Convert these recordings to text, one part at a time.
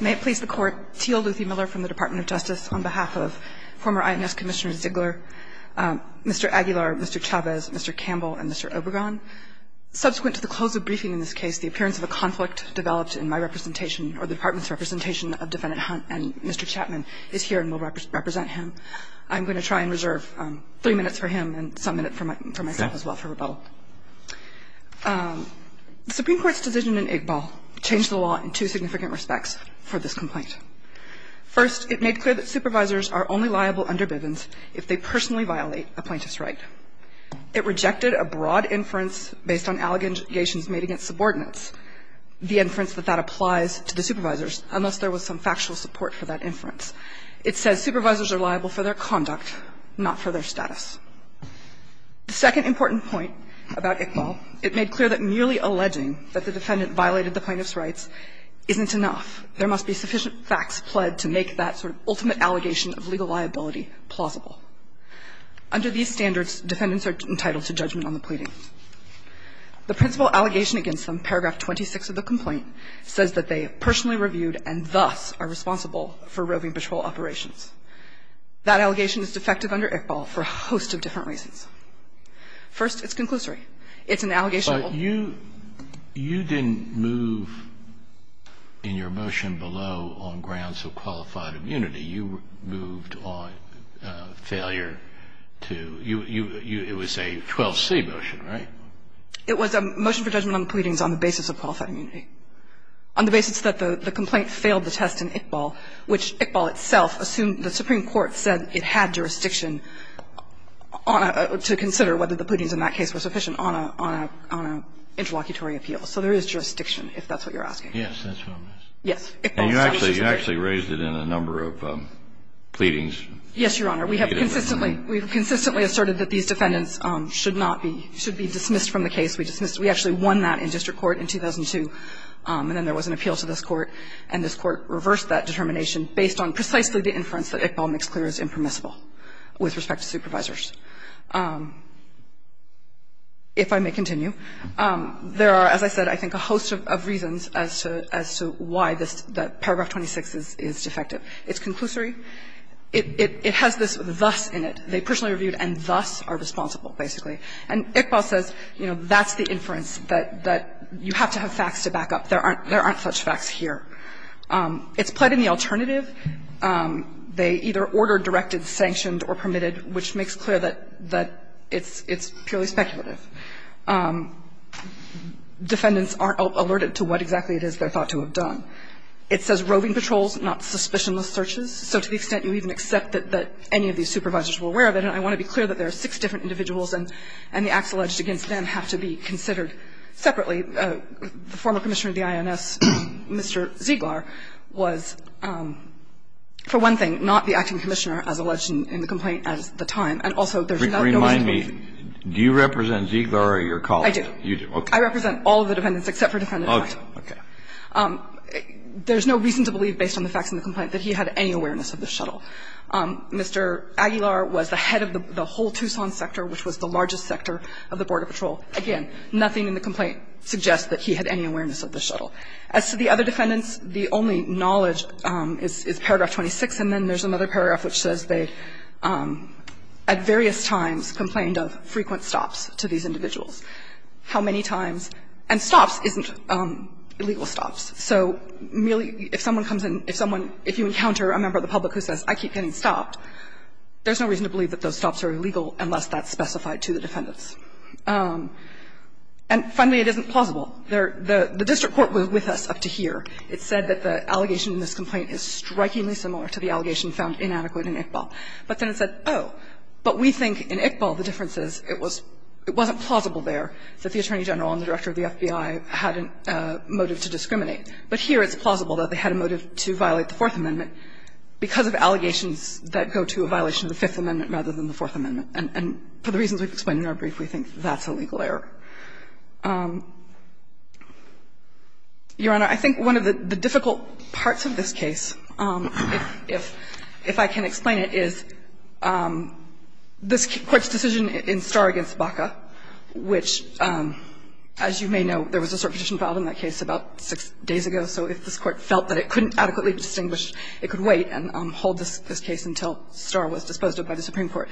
May it please the Court, Teal Luthy Miller from the Department of Justice on behalf of former INS Commissioner Ziggler, Mr. Aguilar, Mr. Chavez, Mr. Campbell, and Mr. Obergon. Subsequent to the close of briefing in this case, the appearance of a conflict developed in my representation or the Department's representation of Defendant Hunt and Mr. Chapman is here and will represent him. I'm going to try and reserve three minutes for him and some minutes for myself as well for rebuttal. The Supreme Court's decision in Iqbal changed the law in two significant respects for this complaint. First, it made clear that supervisors are only liable under Bivens if they personally violate a plaintiff's right. It rejected a broad inference based on allegations made against subordinates, the inference that that applies to the supervisors, unless there was some factual support for that inference. It says supervisors are liable for their conduct, not for their status. The second important point about Iqbal, it made clear that merely alleging that the defendant violated the plaintiff's rights isn't enough. There must be sufficient facts pled to make that sort of ultimate allegation of legal liability plausible. Under these standards, defendants are entitled to judgment on the pleading. The principal allegation against them, paragraph 26 of the complaint, says that they have personally reviewed and thus are responsible for roving patrol operations. That allegation is defective under Iqbal for a host of different reasons. First, it's conclusory. It's an allegation of all. But you didn't move in your motion below on grounds of qualified immunity. You moved on failure to you. It was a 12C motion, right? It was a motion for judgment on the pleadings on the basis of qualified immunity, on the basis that the complaint failed the test in Iqbal, which Iqbal itself assumed the Supreme Court said it had jurisdiction to consider whether the pleadings in that case were sufficient on an interlocutory appeal. So there is jurisdiction, if that's what you're asking. Yes, that's what I'm asking. Yes. And you actually raised it in a number of pleadings. Yes, Your Honor. We have consistently, we have consistently asserted that these defendants should not be, should be dismissed from the case. We dismissed, we actually won that in district court in 2002, and then there was an appeal to this court, and this court reversed that determination based on precisely the inference that Iqbal makes clear is impermissible with respect to supervisors. If I may continue, there are, as I said, I think a host of reasons as to why this paragraph 26 is defective. It's conclusory. It has this thus in it. They personally reviewed and thus are responsible, basically. And Iqbal says, you know, that's the inference, that you have to have facts to back up. There aren't such facts here. It's pled in the alternative. They either ordered, directed, sanctioned, or permitted, which makes clear that it's purely speculative. Defendants aren't alerted to what exactly it is they're thought to have done. It says roving patrols, not suspicionless searches. So to the extent you even accept that any of these supervisors were aware of it, and I want to be clear that there are six different individuals and the acts alleged against them have to be considered separately, the former commissioner of the INS, Mr. Ziegler, was, for one thing, not the acting commissioner, as alleged in the complaint at the time, and also there's no reason to believe it. Do you represent Ziegler or your colleagues? I do. Okay. I represent all of the defendants except for the defendant. Okay. Okay. There's no reason to believe, based on the facts in the complaint, that he had any awareness of the shuttle. Mr. Aguilar was the head of the whole Tucson sector, which was the largest sector of the Border Patrol. Again, nothing in the complaint suggests that he had any awareness of the shuttle. As to the other defendants, the only knowledge is paragraph 26, and then there's another paragraph which says they, at various times, complained of frequent stops to these individuals. How many times? And stops isn't illegal stops. So merely if someone comes in, if someone, if you encounter a member of the public who says, I keep getting stopped, there's no reason to believe that those stops are illegal unless that's specified to the defendants. And finally, it isn't plausible. The district court was with us up to here. It said that the allegation in this complaint is strikingly similar to the allegation found inadequate in Iqbal. But then it said, oh, but we think in Iqbal the difference is it was, it wasn't plausible there that the attorney general and the director of the FBI had a motive to discriminate, but here it's plausible that they had a motive to violate the Fourth Amendment. Because of allegations that go to a violation of the Fifth Amendment rather than the Fourth Amendment. And for the reasons we've explained in our brief, we think that's a legal error. Your Honor, I think one of the difficult parts of this case, if I can explain it, is this Court's decision in Starr v. Baca, which, as you may know, there was a certain petition filed in that case about six days ago, so if this Court felt that it couldn't adequately distinguish, it could wait and hold this case until Starr was disposed of by the Supreme Court.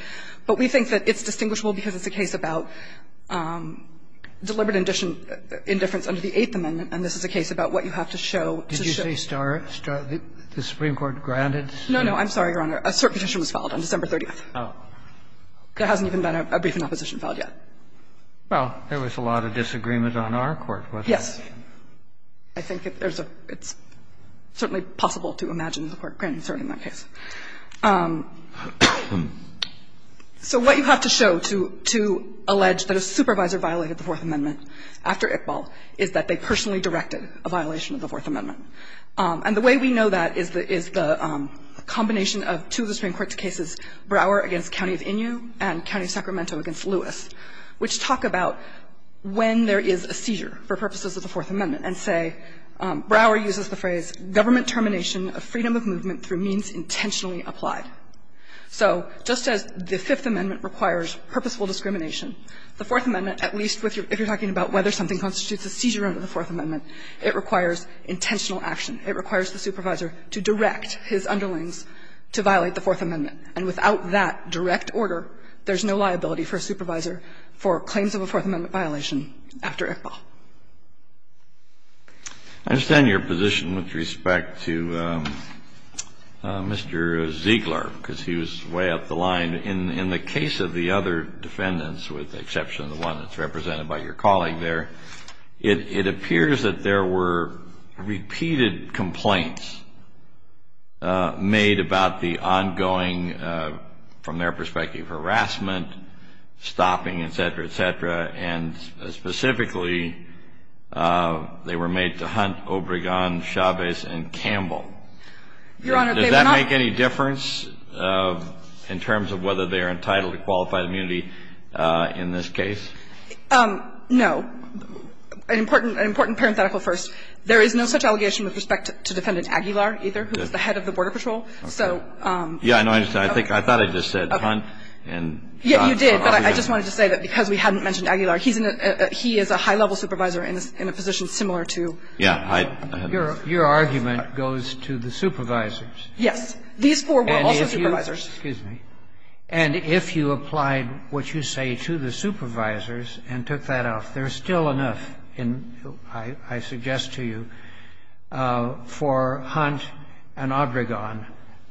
But we think that it's distinguishable because it's a case about deliberate indifference under the Eighth Amendment, and this is a case about what you have to show to show. Kennedy, did you say Starr? The Supreme Court granted Starr? No, no. I'm sorry, Your Honor. A cert petition was filed on December 30th. Oh. There hasn't even been a brief in opposition filed yet. Well, there was a lot of disagreement on our court. Yes. I think there's a – it's certainly possible to imagine the Court granting Starr in that case. So what you have to show to allege that a supervisor violated the Fourth Amendment after Iqbal is that they personally directed a violation of the Fourth Amendment. And the way we know that is the combination of two of the Supreme Court's cases, Brower against County of Innu and County of Sacramento against Lewis, which talk about when there is a seizure for purposes of the Fourth Amendment and say, Brower uses the phrase, "'Government termination of freedom of movement through means intentionally applied.'" So just as the Fifth Amendment requires purposeful discrimination, the Fourth Amendment, at least if you're talking about whether something constitutes a seizure under the Fourth Amendment, it requires intentional action. It requires the supervisor to direct his underlings to violate the Fourth Amendment. And without that direct order, there's no liability for a supervisor for claims of a Fourth Amendment violation after Iqbal. I understand your position with respect to Mr. Ziegler, because he was way up the line. In the case of the other defendants, with the exception of the one that's represented by your colleague there, it appears that there were repeated complaints made about the ongoing, from their perspective, harassment, stopping, et cetera, et cetera. And specifically, they were made to hunt Obregon, Chavez, and Campbell. Your Honor, they were not. Does that make any difference in terms of whether they are entitled to qualified immunity in this case? No. An important parenthetical first. There is no such allegation with respect to Defendant Aguilar, either, who was the head of the Border Patrol. So no. Yes, I know. I thought I just said hunt and not Obregon. Yes, you did. But I just wanted to say that because we hadn't mentioned Aguilar, he is a high-level supervisor in a position similar to Obregon. Yes. Your argument goes to the supervisors. Yes. These four were also supervisors. Excuse me. And if you applied what you say to the supervisors and took that out, there's still enough, I suggest to you, for hunt and Obregon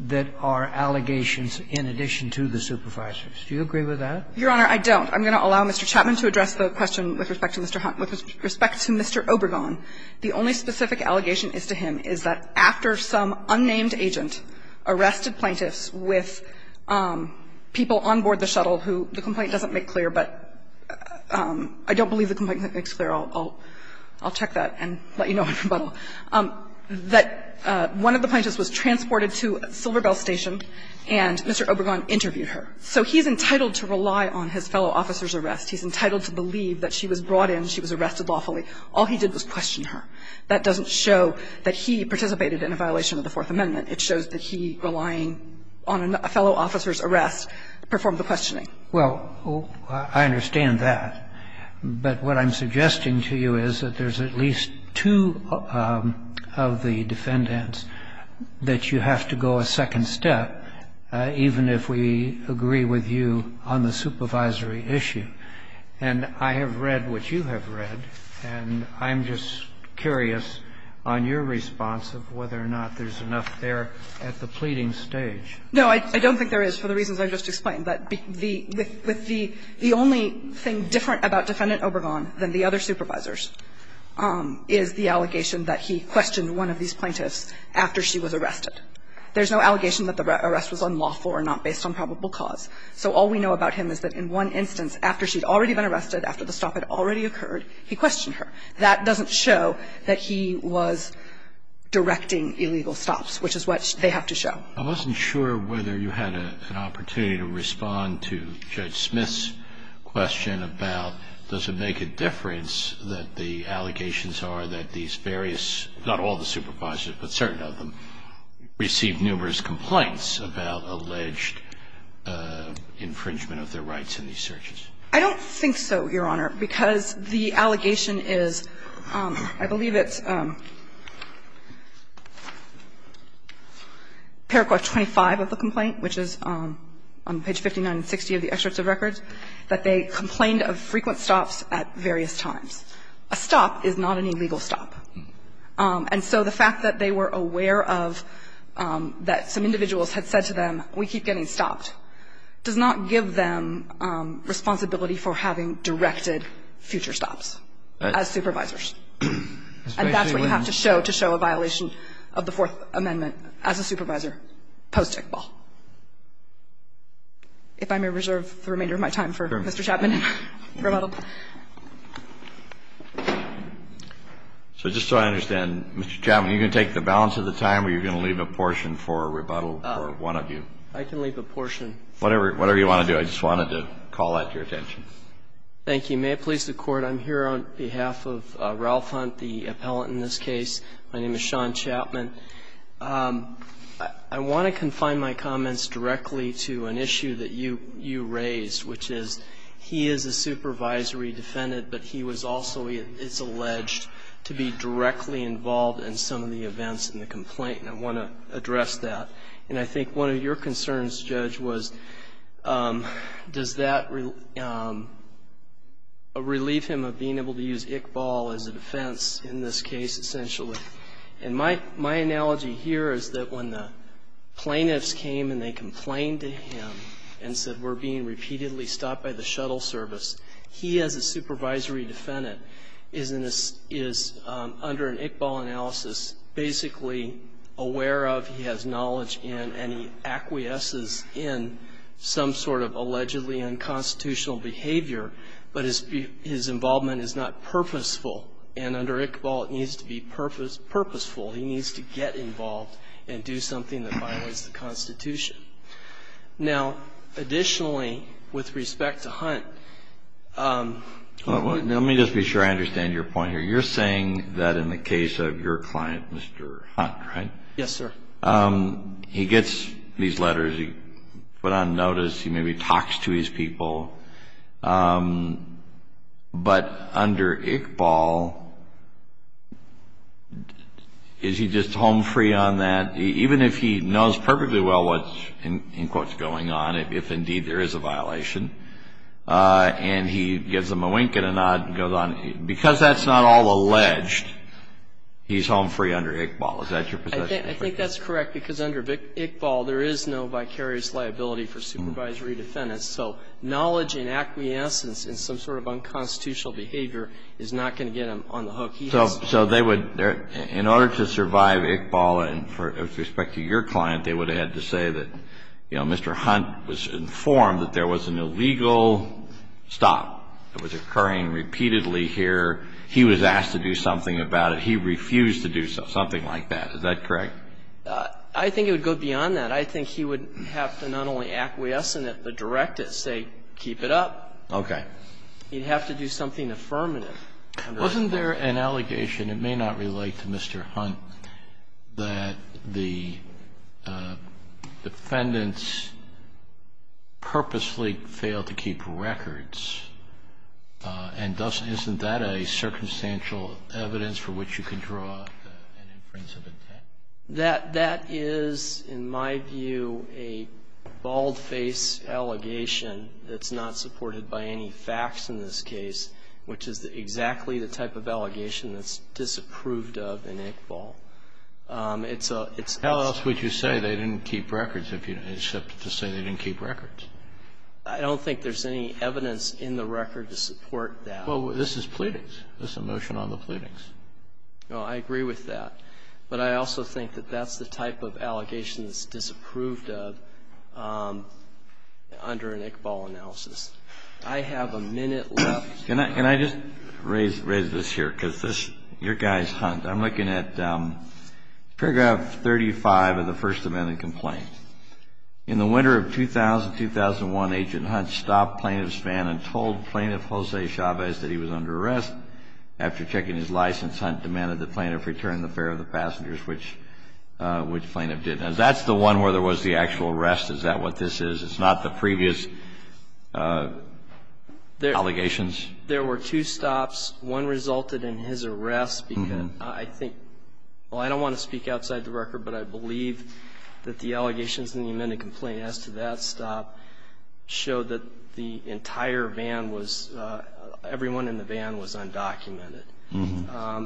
that are allegations in addition to the supervisors. Do you agree with that? Your Honor, I don't. I'm going to allow Mr. Chapman to address the question with respect to Mr. Hunt. With respect to Mr. Obregon, the only specific allegation is to him is that after some unnamed agent arrested plaintiffs with people on board the shuttle who the complaint doesn't make clear, but I don't believe the complaint makes clear. I'll check that and let you know in rebuttal. That one of the plaintiffs was transported to Silver Bell Station and Mr. Obregon interviewed her. So he's entitled to rely on his fellow officer's arrest. He's entitled to believe that she was brought in, she was arrested lawfully. All he did was question her. That doesn't show that he participated in a violation of the Fourth Amendment. It shows that he, relying on a fellow officer's arrest, performed the questioning. Well, I understand that. But what I'm suggesting to you is that there's at least two of the defendants that you have to go a second step, even if we agree with you on the supervisory issue. And I have read what you have read, and I'm just curious on your response of whether or not there's enough there at the pleading stage. No, I don't think there is, for the reasons I just explained. But the only thing different about Defendant Obregon than the other supervisors is the allegation that he questioned one of these plaintiffs after she was arrested. There's no allegation that the arrest was unlawful or not based on probable cause. So all we know about him is that in one instance, after she had already been arrested, after the stop had already occurred, he questioned her. That doesn't show that he was directing illegal stops, which is what they have to show. I wasn't sure whether you had an opportunity to respond to Judge Smith's question about does it make a difference that the allegations are that these various, not all the supervisors, but certain of them, received numerous complaints about alleged infringement of their rights in these searches. I don't think so, Your Honor, because the allegation is, I believe it's Paragraph 25 of the complaint, which is on page 59 and 60 of the excerpts of records, that they complained of frequent stops at various times. A stop is not an illegal stop. And so the fact that they were aware of that some individuals had said to them, we keep getting stopped, does not give them responsibility for having directed future stops as supervisors. And that's what you have to show to show a violation of the Fourth Amendment as a supervisor post-Tickball. If I may reserve the remainder of my time for Mr. Chapman and rebuttal. So just so I understand, Mr. Chapman, you're going to take the balance of the time or you're going to leave a portion for rebuttal for one of you? I can leave a portion. Whatever you want to do. I just wanted to call out your attention. Thank you. May it please the Court. I'm here on behalf of Ralph Hunt, the appellant in this case. My name is Sean Chapman. I want to confine my comments directly to an issue that you raised, which is he is a supervisory defendant, but he was also, it's alleged, to be directly involved in some of the events in the complaint. And I want to address that. And I think one of your concerns, Judge, was does that relieve him of being able to use Iqbal as a defense in this case, essentially? And my analogy here is that when the plaintiffs came and they complained to him and said we're being repeatedly stopped by the shuttle service, he as a supervisory defendant is under an Iqbal analysis basically aware of, he has knowledge in, and he acquiesces in some sort of allegedly unconstitutional behavior, but his involvement is not purposeful. And under Iqbal it needs to be purposeful. He needs to get involved and do something that violates the Constitution. Now, additionally, with respect to Hunt. Let me just be sure I understand your point here. You're saying that in the case of your client, Mr. Hunt, right? Yes, sir. He gets these letters. He put on notice. He maybe talks to his people. But under Iqbal, is he just home free on that? Even if he knows perfectly well what's, in quotes, going on, if indeed there is a violation, and he gives them a wink and a nod and goes on, because that's not all alleged, he's home free under Iqbal. Is that your position? I think that's correct, because under Iqbal there is no vicarious liability for supervisory defendants. So knowledge and acquiescence in some sort of unconstitutional behavior is not going to get him on the hook. So they would, in order to survive Iqbal, and with respect to your client, they would have had to say that, you know, Mr. Hunt was informed that there was an illegal stop that was occurring repeatedly here. He was asked to do something about it. He refused to do something like that. Is that correct? I think it would go beyond that. I think he would have to not only acquiesce in it, but direct it, say, keep it up. Okay. He'd have to do something affirmative. Wasn't there an allegation, it may not relate to Mr. Hunt, that the defendants purposely failed to keep records? And isn't that a circumstantial evidence for which you can draw an inference of intent? That is, in my view, a bald-faced allegation that's not supported by any facts in this case, which is exactly the type of allegation that's disapproved of in Iqbal. It's a Tell us what you say. They didn't keep records, except to say they didn't keep records. I don't think there's any evidence in the record to support that. Well, this is pleadings. This is a motion on the pleadings. Oh, I agree with that. But I also think that that's the type of allegation that's disapproved of under an Iqbal analysis. I have a minute left. Can I just raise this here? Because your guy's Hunt. I'm looking at paragraph 35 of the first amendment complaint. In the winter of 2000-2001, Agent Hunt stopped plaintiff's van and told plaintiff Jose Chavez that he was under arrest. After checking his license, Hunt demanded the plaintiff return the fare of the passengers, which plaintiff did. Now, that's the one where there was the actual arrest. Is that what this is? It's not the previous allegations? There were two stops. One resulted in his arrest because I think – well, I don't want to speak outside the record, but I believe that the allegations in the amendment complaint as to that stop showed that the entire van was – everyone in the van was undocumented.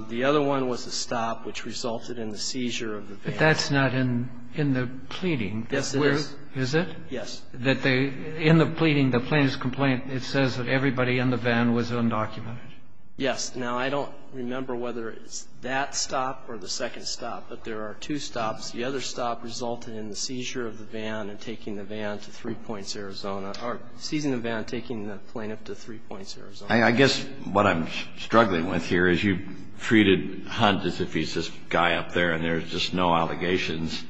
The other one was a stop which resulted in the seizure of the van. But that's not in the pleading. Yes, it is. Is it? Yes. In the pleading, the plaintiff's complaint, it says that everybody in the van was undocumented. Yes. Now, I don't remember whether it's that stop or the second stop, but there are two stops. The other stop resulted in the seizure of the van and taking the van to Three Points, Arizona or seizing the van and taking the plaintiff to Three Points, Arizona. I guess what I'm struggling with here is you've treated Hunt as if he's this guy up there and there's just no allegations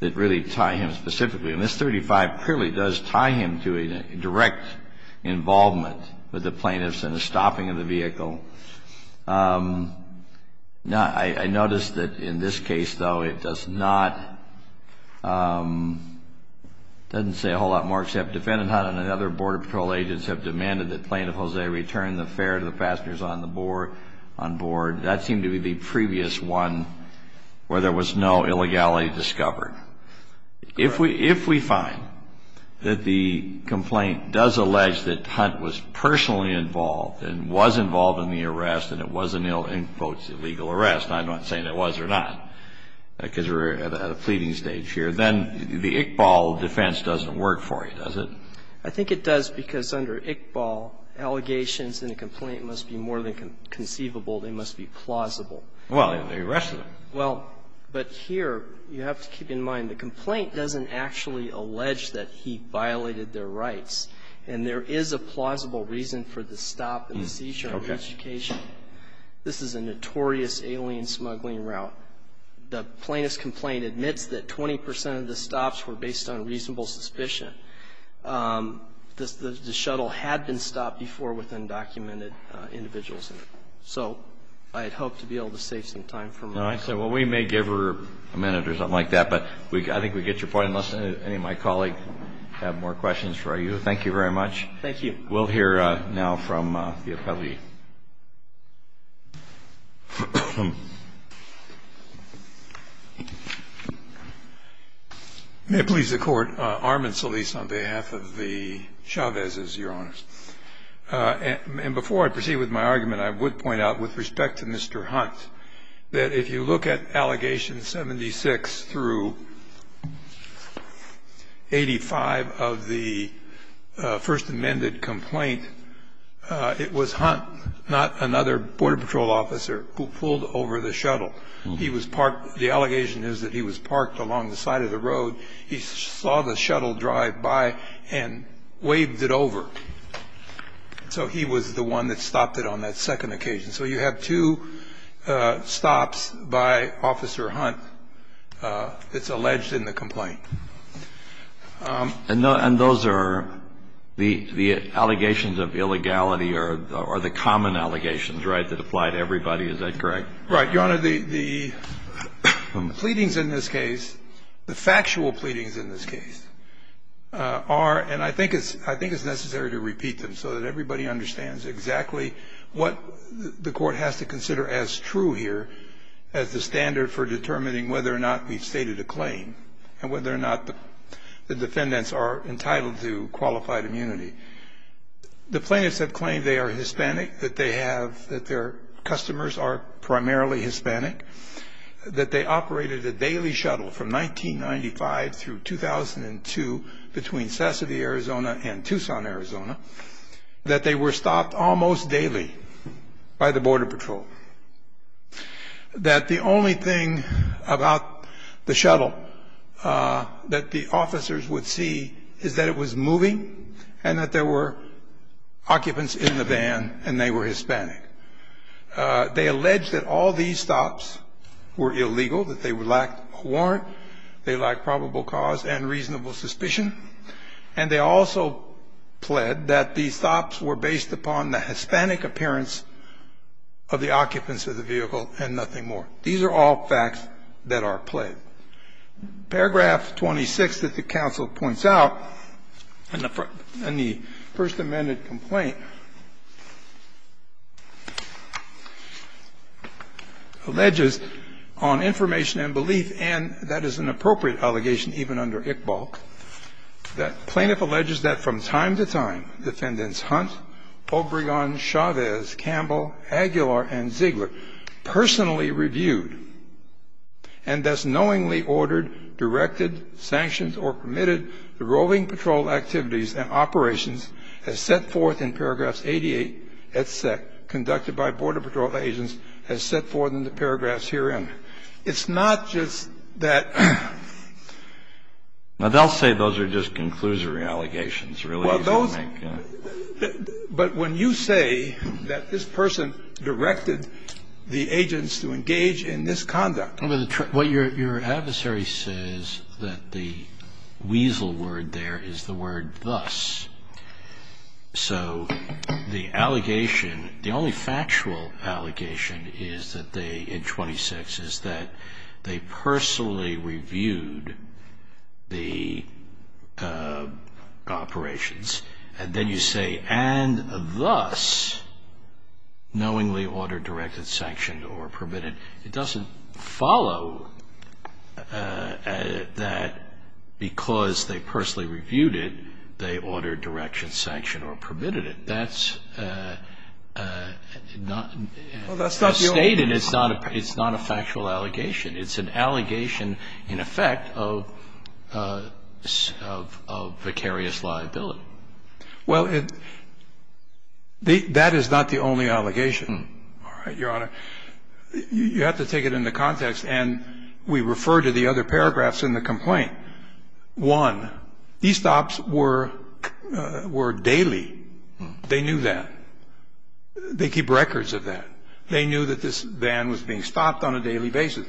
that really tie him specifically. And this 35 clearly does tie him to a direct involvement with the plaintiffs in the stopping of the vehicle. Now, I noticed that in this case, though, it does not – it doesn't say a whole lot more except defendant Hunt and another Border Patrol agents have demanded that Plaintiff Jose return the fare to the passengers on board. That seemed to be the previous one where there was no illegality discovered. Correct. If we find that the complaint does allege that Hunt was personally involved and was involved in the arrest and it was an, in quotes, illegal arrest, and I'm not saying it was or not because we're at a pleading stage here, then the Iqbal defense doesn't work for you, does it? I think it does because under Iqbal, allegations in a complaint must be more than conceivable. They must be plausible. Well, they arrested him. Well, but here you have to keep in mind the complaint doesn't actually allege that he violated their rights, and there is a plausible reason for the stop and seizure on each occasion. This is a notorious alien smuggling route. The plaintiff's complaint admits that 20 percent of the stops were based on reasonable suspicion. The shuttle had been stopped before with undocumented individuals in it. So I'd hope to be able to save some time for my question. Well, we may give her a minute or something like that, but I think we get your point, unless any of my colleagues have more questions for you. Thank you very much. Thank you. We'll hear now from the appellee. May it please the Court. Armin Solis on behalf of the Chavez's, Your Honors. And before I proceed with my argument, I would point out with respect to Mr. Hunt that if you look at allegations 76 through 85 of the first amended complaint, it was Hunt, not another Border Patrol officer, who pulled over the shuttle. He was parked. The allegation is that he was parked along the side of the road. He saw the shuttle drive by and waved it over. So he was the one that stopped it on that second occasion. So you have two stops by Officer Hunt that's alleged in the complaint. And those are the allegations of illegality or the common allegations, right, that apply to everybody. Is that correct? Your Honor, the pleadings in this case, the factual pleadings in this case are, and I think it's necessary to repeat them so that everybody understands exactly what the Court has to consider as true here as the standard for determining whether or not we've stated a claim and whether or not the defendants are entitled to qualified immunity. The plaintiffs have claimed they are Hispanic, that they have, that their customers are primarily Hispanic, that they operated a daily shuttle from 1995 through 2002 between Sassavie, Arizona, and Tucson, Arizona, that they were stopped almost daily by the Border Patrol, that the only thing about the shuttle that the officers would see is that it was moving and that there were occupants in the van and they were Hispanic. They allege that all these stops were illegal, that they lacked a warrant, they lacked probable cause and reasonable suspicion. And they also pled that these stops were based upon the Hispanic appearance of the occupants of the vehicle and nothing more. These are all facts that are pled. Paragraph 26 that the counsel points out in the First Amendment complaint alleges on information and belief, and that is an appropriate allegation even under Iqbal, that plaintiff alleges that from time to time defendants Hunt, Obregon, Chavez, Campbell, Aguilar, and Ziegler personally reviewed, and thus knowing ordered, directed, sanctioned, or permitted the roving patrol activities and operations as set forth in paragraphs 88 et sec, conducted by Border Patrol agents as set forth in the paragraphs herein. It's not just that they'll say those are just conclusory allegations. But when you say that this person directed the agents to engage in this conduct. Well, your adversary says that the weasel word there is the word thus. So the allegation, the only factual allegation is that they, in 26, is that they personally reviewed the operations. And then you say, and thus knowingly ordered, directed, sanctioned, or permitted. It doesn't follow that because they personally reviewed it, they ordered, directed, sanctioned, or permitted it. That's not stated. It's not a factual allegation. It's an allegation in effect of vicarious liability. Well, that is not the only allegation, Your Honor. You have to take it into context. And we refer to the other paragraphs in the complaint. One, these stops were daily. They knew that. They keep records of that. They knew that this van was being stopped on a daily basis.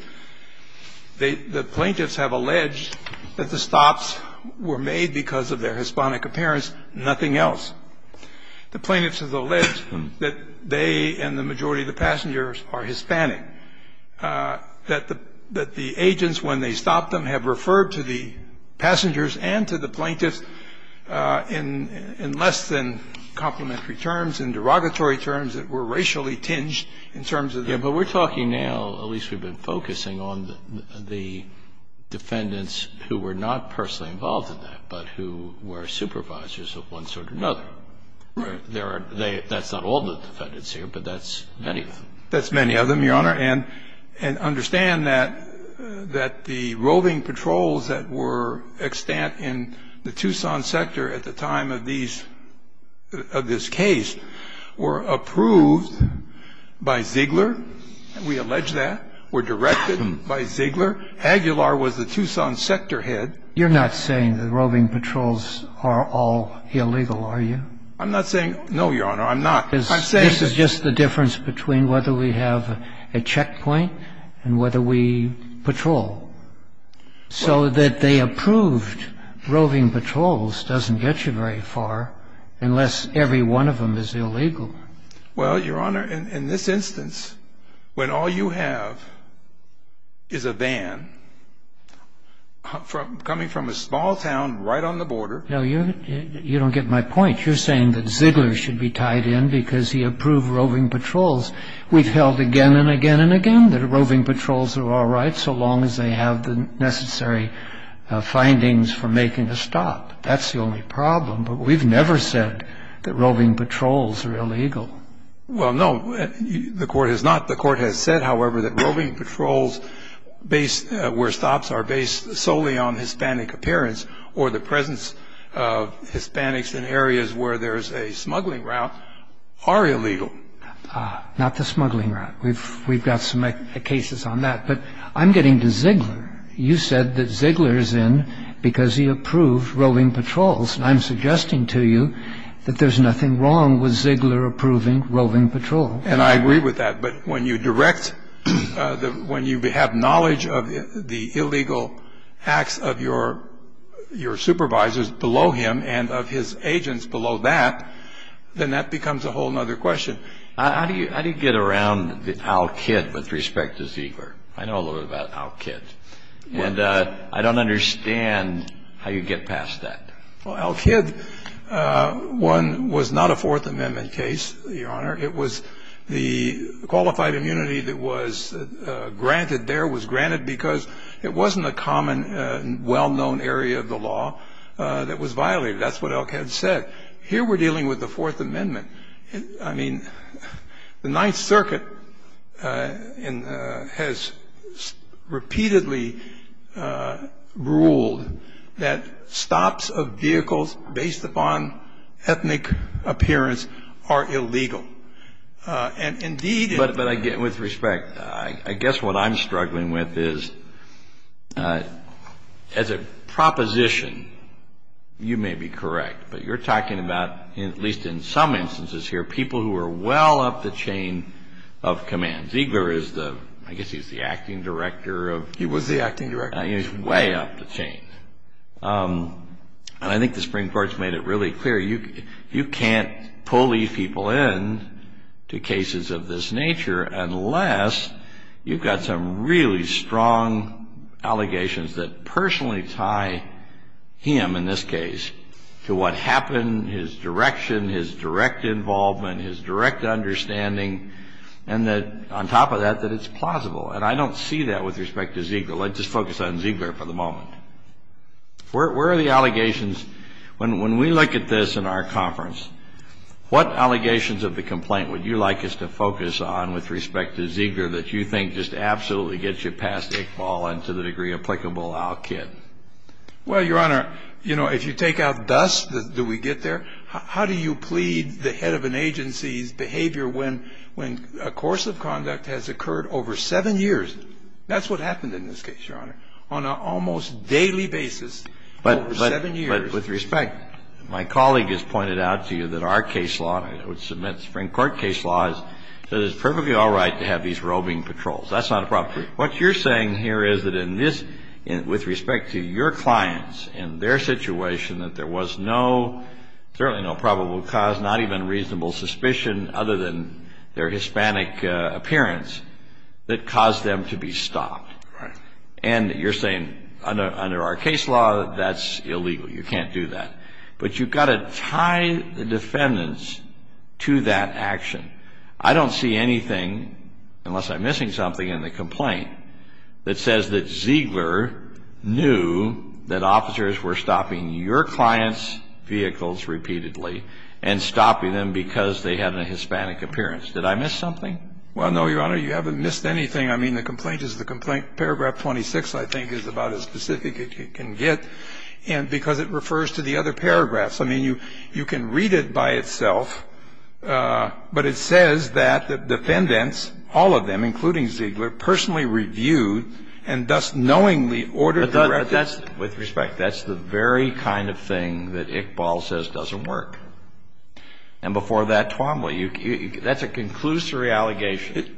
The plaintiffs have alleged that the stops were made because of their Hispanic appearance, nothing else. The plaintiffs have alleged that they and the majority of the passengers are Hispanic, that the agents, when they stopped them, have referred to the passengers and to the plaintiffs in less than complementary terms, in derogatory terms, that were racially tinged in terms of their appearance. But we're talking now, at least we've been focusing on the defendants who were not there. That's not all the defendants here, but that's many of them. That's many of them, Your Honor. And understand that the roving patrols that were extant in the Tucson sector at the time of this case were approved by Ziegler. We allege that. Were directed by Ziegler. Aguilar was the Tucson sector head. You're not saying the roving patrols are all illegal, are you? I'm not saying, no, Your Honor, I'm not. This is just the difference between whether we have a checkpoint and whether we patrol. So that they approved roving patrols doesn't get you very far unless every one of them is illegal. Well, Your Honor, in this instance, when all you have is a van coming from a small town right on the border. No, you don't get my point. You're saying that Ziegler should be tied in because he approved roving patrols. We've held again and again and again that roving patrols are all right so long as they have the necessary findings for making a stop. That's the only problem. But we've never said that roving patrols are illegal. Well, no, the court has not. The court has said, however, that roving patrols where stops are based solely on Hispanic appearance or the presence of Hispanics in areas where there is a smuggling route are illegal. Not the smuggling route. We've got some cases on that. But I'm getting to Ziegler. You said that Ziegler is in because he approved roving patrols. I'm suggesting to you that there's nothing wrong with Ziegler approving roving patrols. And I agree with that. But when you direct, when you have knowledge of the illegal acts of your supervisors below him and of his agents below that, then that becomes a whole other question. How do you get around Al Kitt with respect to Ziegler? I know a little bit about Al Kitt. And I don't understand how you get past that. Well, Al Kitt was not a Fourth Amendment case, Your Honor. It was the qualified immunity that was granted there was granted because it wasn't a common, well-known area of the law that was violated. That's what Al Kitt said. Here we're dealing with the Fourth Amendment. I mean, the Ninth Circuit has repeatedly ruled that stops of vehicles based upon ethnic appearance are illegal. And, indeed ‑‑ But, again, with respect, I guess what I'm struggling with is as a proposition, you may be correct, but you're talking about, at least in some instances here, people who are well up the chain of command. Ziegler is the ‑‑ I guess he's the acting director of ‑‑ He was the acting director. He's way up the chain. And I think the Supreme Court's made it really clear you can't pull these people in to cases of this nature unless you've got some really strong allegations that personally tie him, in this case, to what happened, his direction, his direct involvement, his direct understanding, and that, on top of that, that it's plausible. And I don't see that with respect to Ziegler. Let's just focus on Ziegler for the moment. Where are the allegations? When we look at this in our conference, what allegations of the complaint would you like us to focus on with respect to Ziegler that you think just absolutely gets you past Iqbal and to the degree applicable Al Kidd? Well, Your Honor, you know, if you take out dust, do we get there? How do you plead the head of an agency's behavior when a course of conduct has occurred over seven years? That's what happened in this case, Your Honor, on an almost daily basis over seven years. But with respect, my colleague has pointed out to you that our case law, which submits Supreme Court case laws, that it's perfectly all right to have these roving patrols. That's not a problem. What you're saying here is that in this, with respect to your clients and their situation, that there was no, certainly no probable cause, not even reasonable suspicion, other than their Hispanic appearance, that caused them to be stopped. Right. And you're saying under our case law, that's illegal. You can't do that. But you've got to tie the defendants to that action. I don't see anything, unless I'm missing something in the complaint, that says that Ziegler knew that officers were stopping your clients' vehicles repeatedly and stopping them because they had a Hispanic appearance. Did I miss something? Well, no, Your Honor. You haven't missed anything. I mean, the complaint is the complaint. Paragraph 26, I think, is about as specific as you can get. And because it refers to the other paragraphs. I mean, you can read it by itself, but it says that the defendants, all of them, including Ziegler, personally reviewed and thus knowingly ordered the reference. With respect, that's the very kind of thing that Iqbal says doesn't work. And before that, Tuamli, that's a conclusory allegation.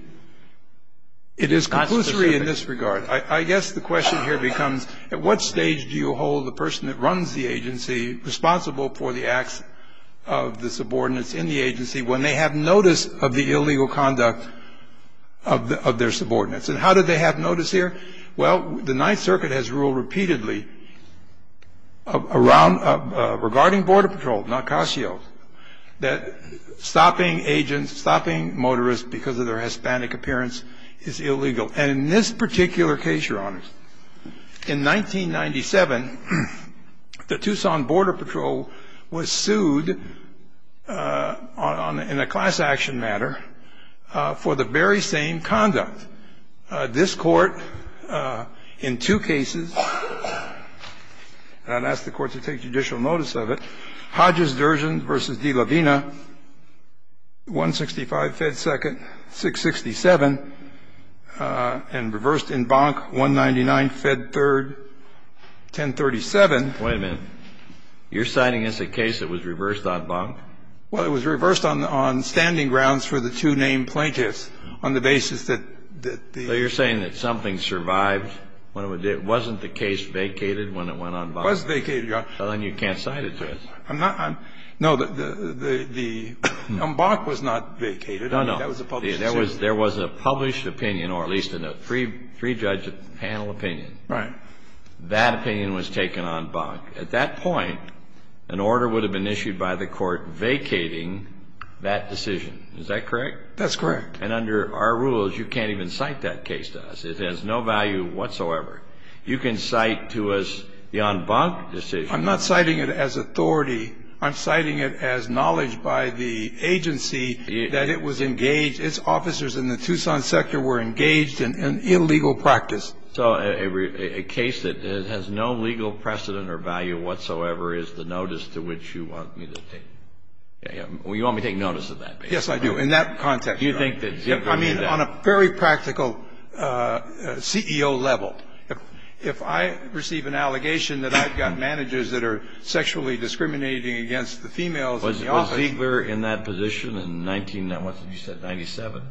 It is conclusory in this regard. I guess the question here becomes, at what stage do you hold the person that runs the agency responsible for the acts of the subordinates in the agency when they have notice of the illegal conduct of their subordinates? And how did they have notice here? Well, the Ninth Circuit has ruled repeatedly regarding Border Patrol, not Casio, that stopping agents, stopping motorists because of their Hispanic appearance is illegal. And in this particular case, Your Honor, in 1997, the Tucson Border Patrol was sued in a class action matter for the very same conduct. This court, in two cases, and I'd ask the court to take judicial notice of it, in the case of Hodges-Durgeon v. De La Vina, 165 Fed 2nd, 667, and reversed in Bonk, 199 Fed 3rd, 1037. Wait a minute. You're citing as a case that was reversed on Bonk? Well, it was reversed on standing grounds for the two named plaintiffs on the basis that the ---- So you're saying that something survived when it was ---- it wasn't the case vacated when it went on Bonk? It was vacated, Your Honor. Well, then you can't cite it to us. I'm not ---- No, the ---- on Bonk was not vacated. No, no. That was a public decision. There was a published opinion, or at least in a three-judge panel opinion. Right. That opinion was taken on Bonk. At that point, an order would have been issued by the court vacating that decision. Is that correct? That's correct. And under our rules, you can't even cite that case to us. It has no value whatsoever. You can cite to us the on Bonk decision. I'm not citing it as authority. I'm citing it as knowledge by the agency that it was engaged. Its officers in the Tucson sector were engaged in an illegal practice. So a case that has no legal precedent or value whatsoever is the notice to which you want me to take. You want me to take notice of that case. Yes, I do, in that context, Your Honor. Do you think that ---- I mean, on a very practical CEO level. If I receive an allegation that I've got managers that are sexually discriminating against the females in the office ---- Was Ziegler in that position in 1997?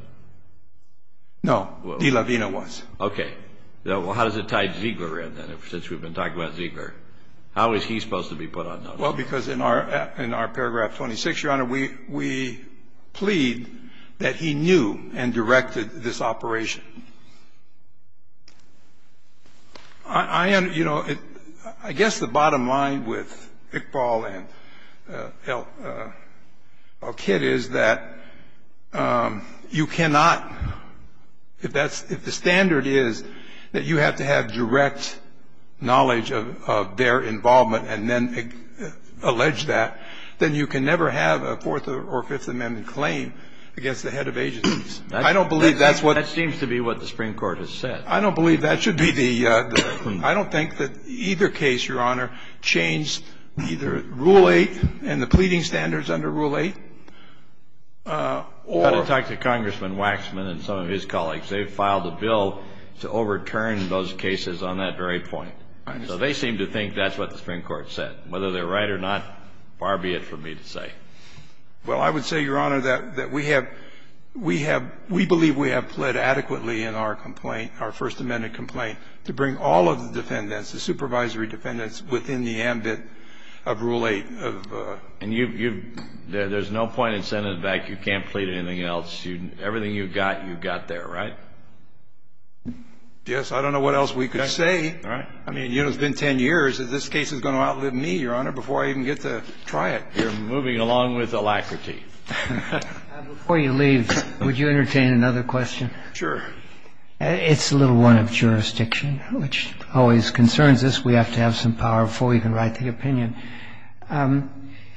No. De La Vina was. Okay. Well, how does it tie Ziegler in, then, since we've been talking about Ziegler? How is he supposed to be put on notice? Well, because in our paragraph 26, Your Honor, we plead that he knew and directed this operation. I guess the bottom line with Iqbal and Elkid is that you cannot, if the standard is that you have to have direct knowledge of their then you can never have a Fourth or Fifth Amendment claim against the head of agencies. I don't believe that's what ---- That seems to be what the Supreme Court has said. I don't believe that should be the ---- I don't think that either case, Your Honor, changed either Rule 8 and the pleading standards under Rule 8 or ---- I've got to talk to Congressman Waxman and some of his colleagues. They filed a bill to overturn those cases on that very point. So they seem to think that's what the Supreme Court said. Whether they're right or not, far be it from me to say. Well, I would say, Your Honor, that we have ---- we believe we have pled adequately in our complaint, our First Amendment complaint, to bring all of the defendants, the supervisory defendants, within the ambit of Rule 8. And you've ---- there's no point in sending it back. You can't plead anything else. Everything you've got, you've got there, right? Yes. I don't know what else we could say. All right. I mean, you know, it's been 10 years. This case is going to outlive me, Your Honor, before I even get to try it. You're moving along with alacrity. Before you leave, would you entertain another question? Sure. It's a little one of jurisdiction, which always concerns us. We have to have some power before we can write the opinion.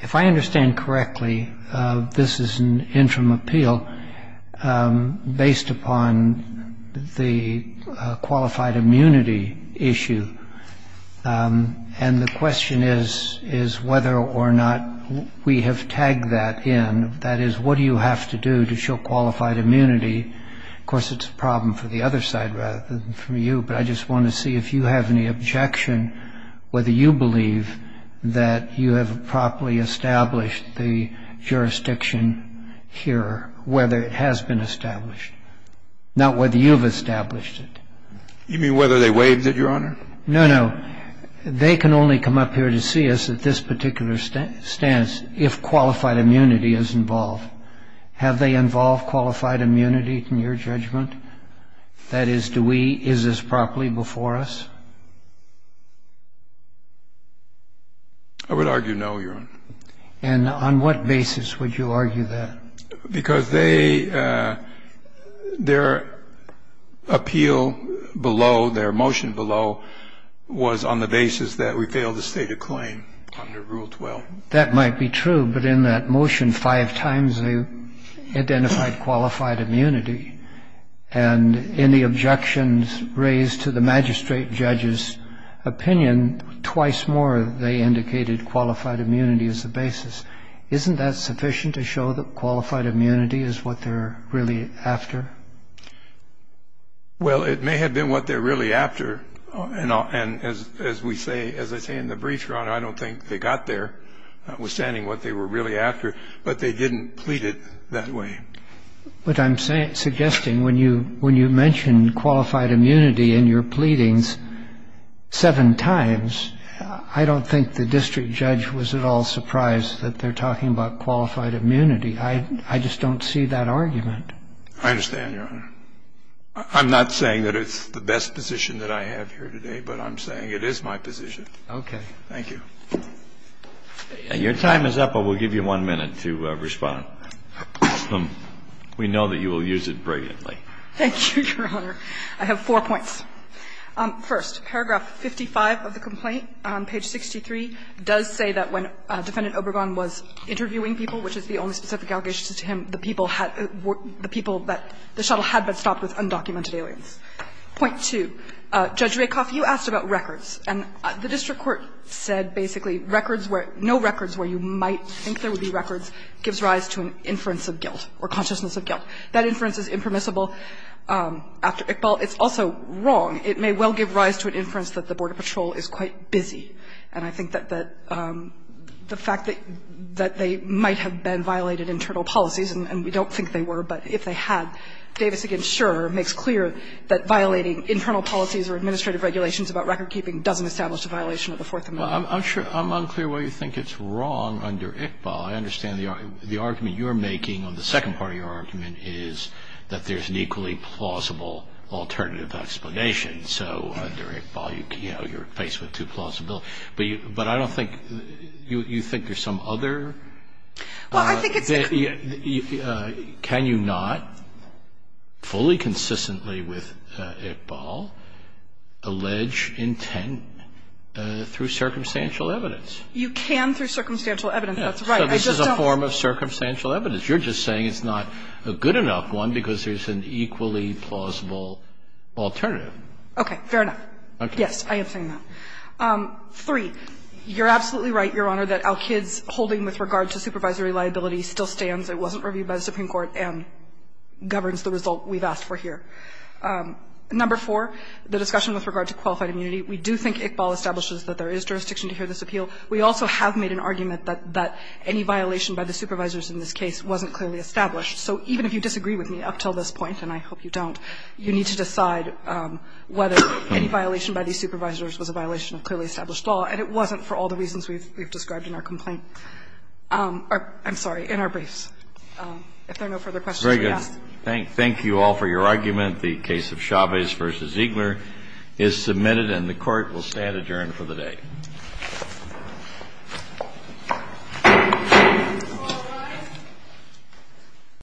If I understand correctly, this is an interim appeal based upon the qualified immunity issue. And the question is whether or not we have tagged that in. That is, what do you have to do to show qualified immunity? Of course, it's a problem for the other side rather than for you. But I just want to see if you have any objection whether you believe that you have properly established the jurisdiction here, whether it has been established, not whether you've established it. You mean whether they waived it, Your Honor? No, no. They can only come up here to see us at this particular stance if qualified immunity is involved. Have they involved qualified immunity, in your judgment? That is, is this properly before us? I would argue no, Your Honor. And on what basis would you argue that? Because their appeal below, their motion below, was on the basis that we failed to state a claim under Rule 12. That might be true. But in that motion, five times they identified qualified immunity. And in the objections raised to the magistrate judge's opinion, twice more they indicated qualified immunity as the basis. Isn't that sufficient to show that qualified immunity is what they're really after? Well, it may have been what they're really after. And as we say, as I say in the brief, Your Honor, I don't think they got there, withstanding what they were really after, but they didn't plead it that way. But I'm suggesting when you mention qualified immunity in your pleadings seven times, I don't think the district judge was at all surprised that they're talking about qualified immunity. I just don't see that argument. I understand, Your Honor. I'm not saying that it's the best position that I have here today, but I'm saying it is my position. Okay. Thank you. Your time is up. I will give you one minute to respond. We know that you will use it brilliantly. Thank you, Your Honor. I have four points. First, paragraph 55 of the complaint, page 63, does say that when Defendant Obergon was interviewing people, which is the only specific allegation to him, the people that the shuttle had been stopped with undocumented aliens. Point two, Judge Rakoff, you asked about records, and the district court said basically records where no records where you might think there would be records gives rise to an inference of guilt or consciousness of guilt. That inference is impermissible after Iqbal. It's also wrong. It may well give rise to an inference that the Border Patrol is quite busy, and I think that the fact that they might have been violated internal policies, and we don't think they were, but if they had, Davis against Shurer makes clear that violating internal policies or administrative regulations about recordkeeping doesn't establish a violation of the Fourth Amendment. Well, I'm unclear why you think it's wrong under Iqbal. I understand the argument you're making on the second part of your argument is that there's an equally plausible alternative explanation. So under Iqbal, you're faced with two plausible. But I don't think you think there's some other? Well, I think it's a can you not fully consistently with Iqbal allege intent through circumstantial evidence? You can through circumstantial evidence. That's right. This is a form of circumstantial evidence. You're just saying it's not a good enough one because there's an equally plausible alternative. Okay. Fair enough. Yes, I am saying that. Three. You're absolutely right, Your Honor, that Al-Kid's holding with regard to supervisory liability still stands. It wasn't reviewed by the Supreme Court and governs the result we've asked for here. Number four, the discussion with regard to qualified immunity. We do think Iqbal establishes that there is jurisdiction to hear this appeal. We also have made an argument that any violation by the supervisors in this case wasn't clearly established. So even if you disagree with me up until this point, and I hope you don't, you need to decide whether any violation by these supervisors was a violation of clearly established law, and it wasn't for all the reasons we've described in our complaint or, I'm sorry, in our briefs. If there are no further questions to be asked. Thank you all for your argument. The case of Chavez v. Ziegler is submitted, and the Court will stand adjourned for the day.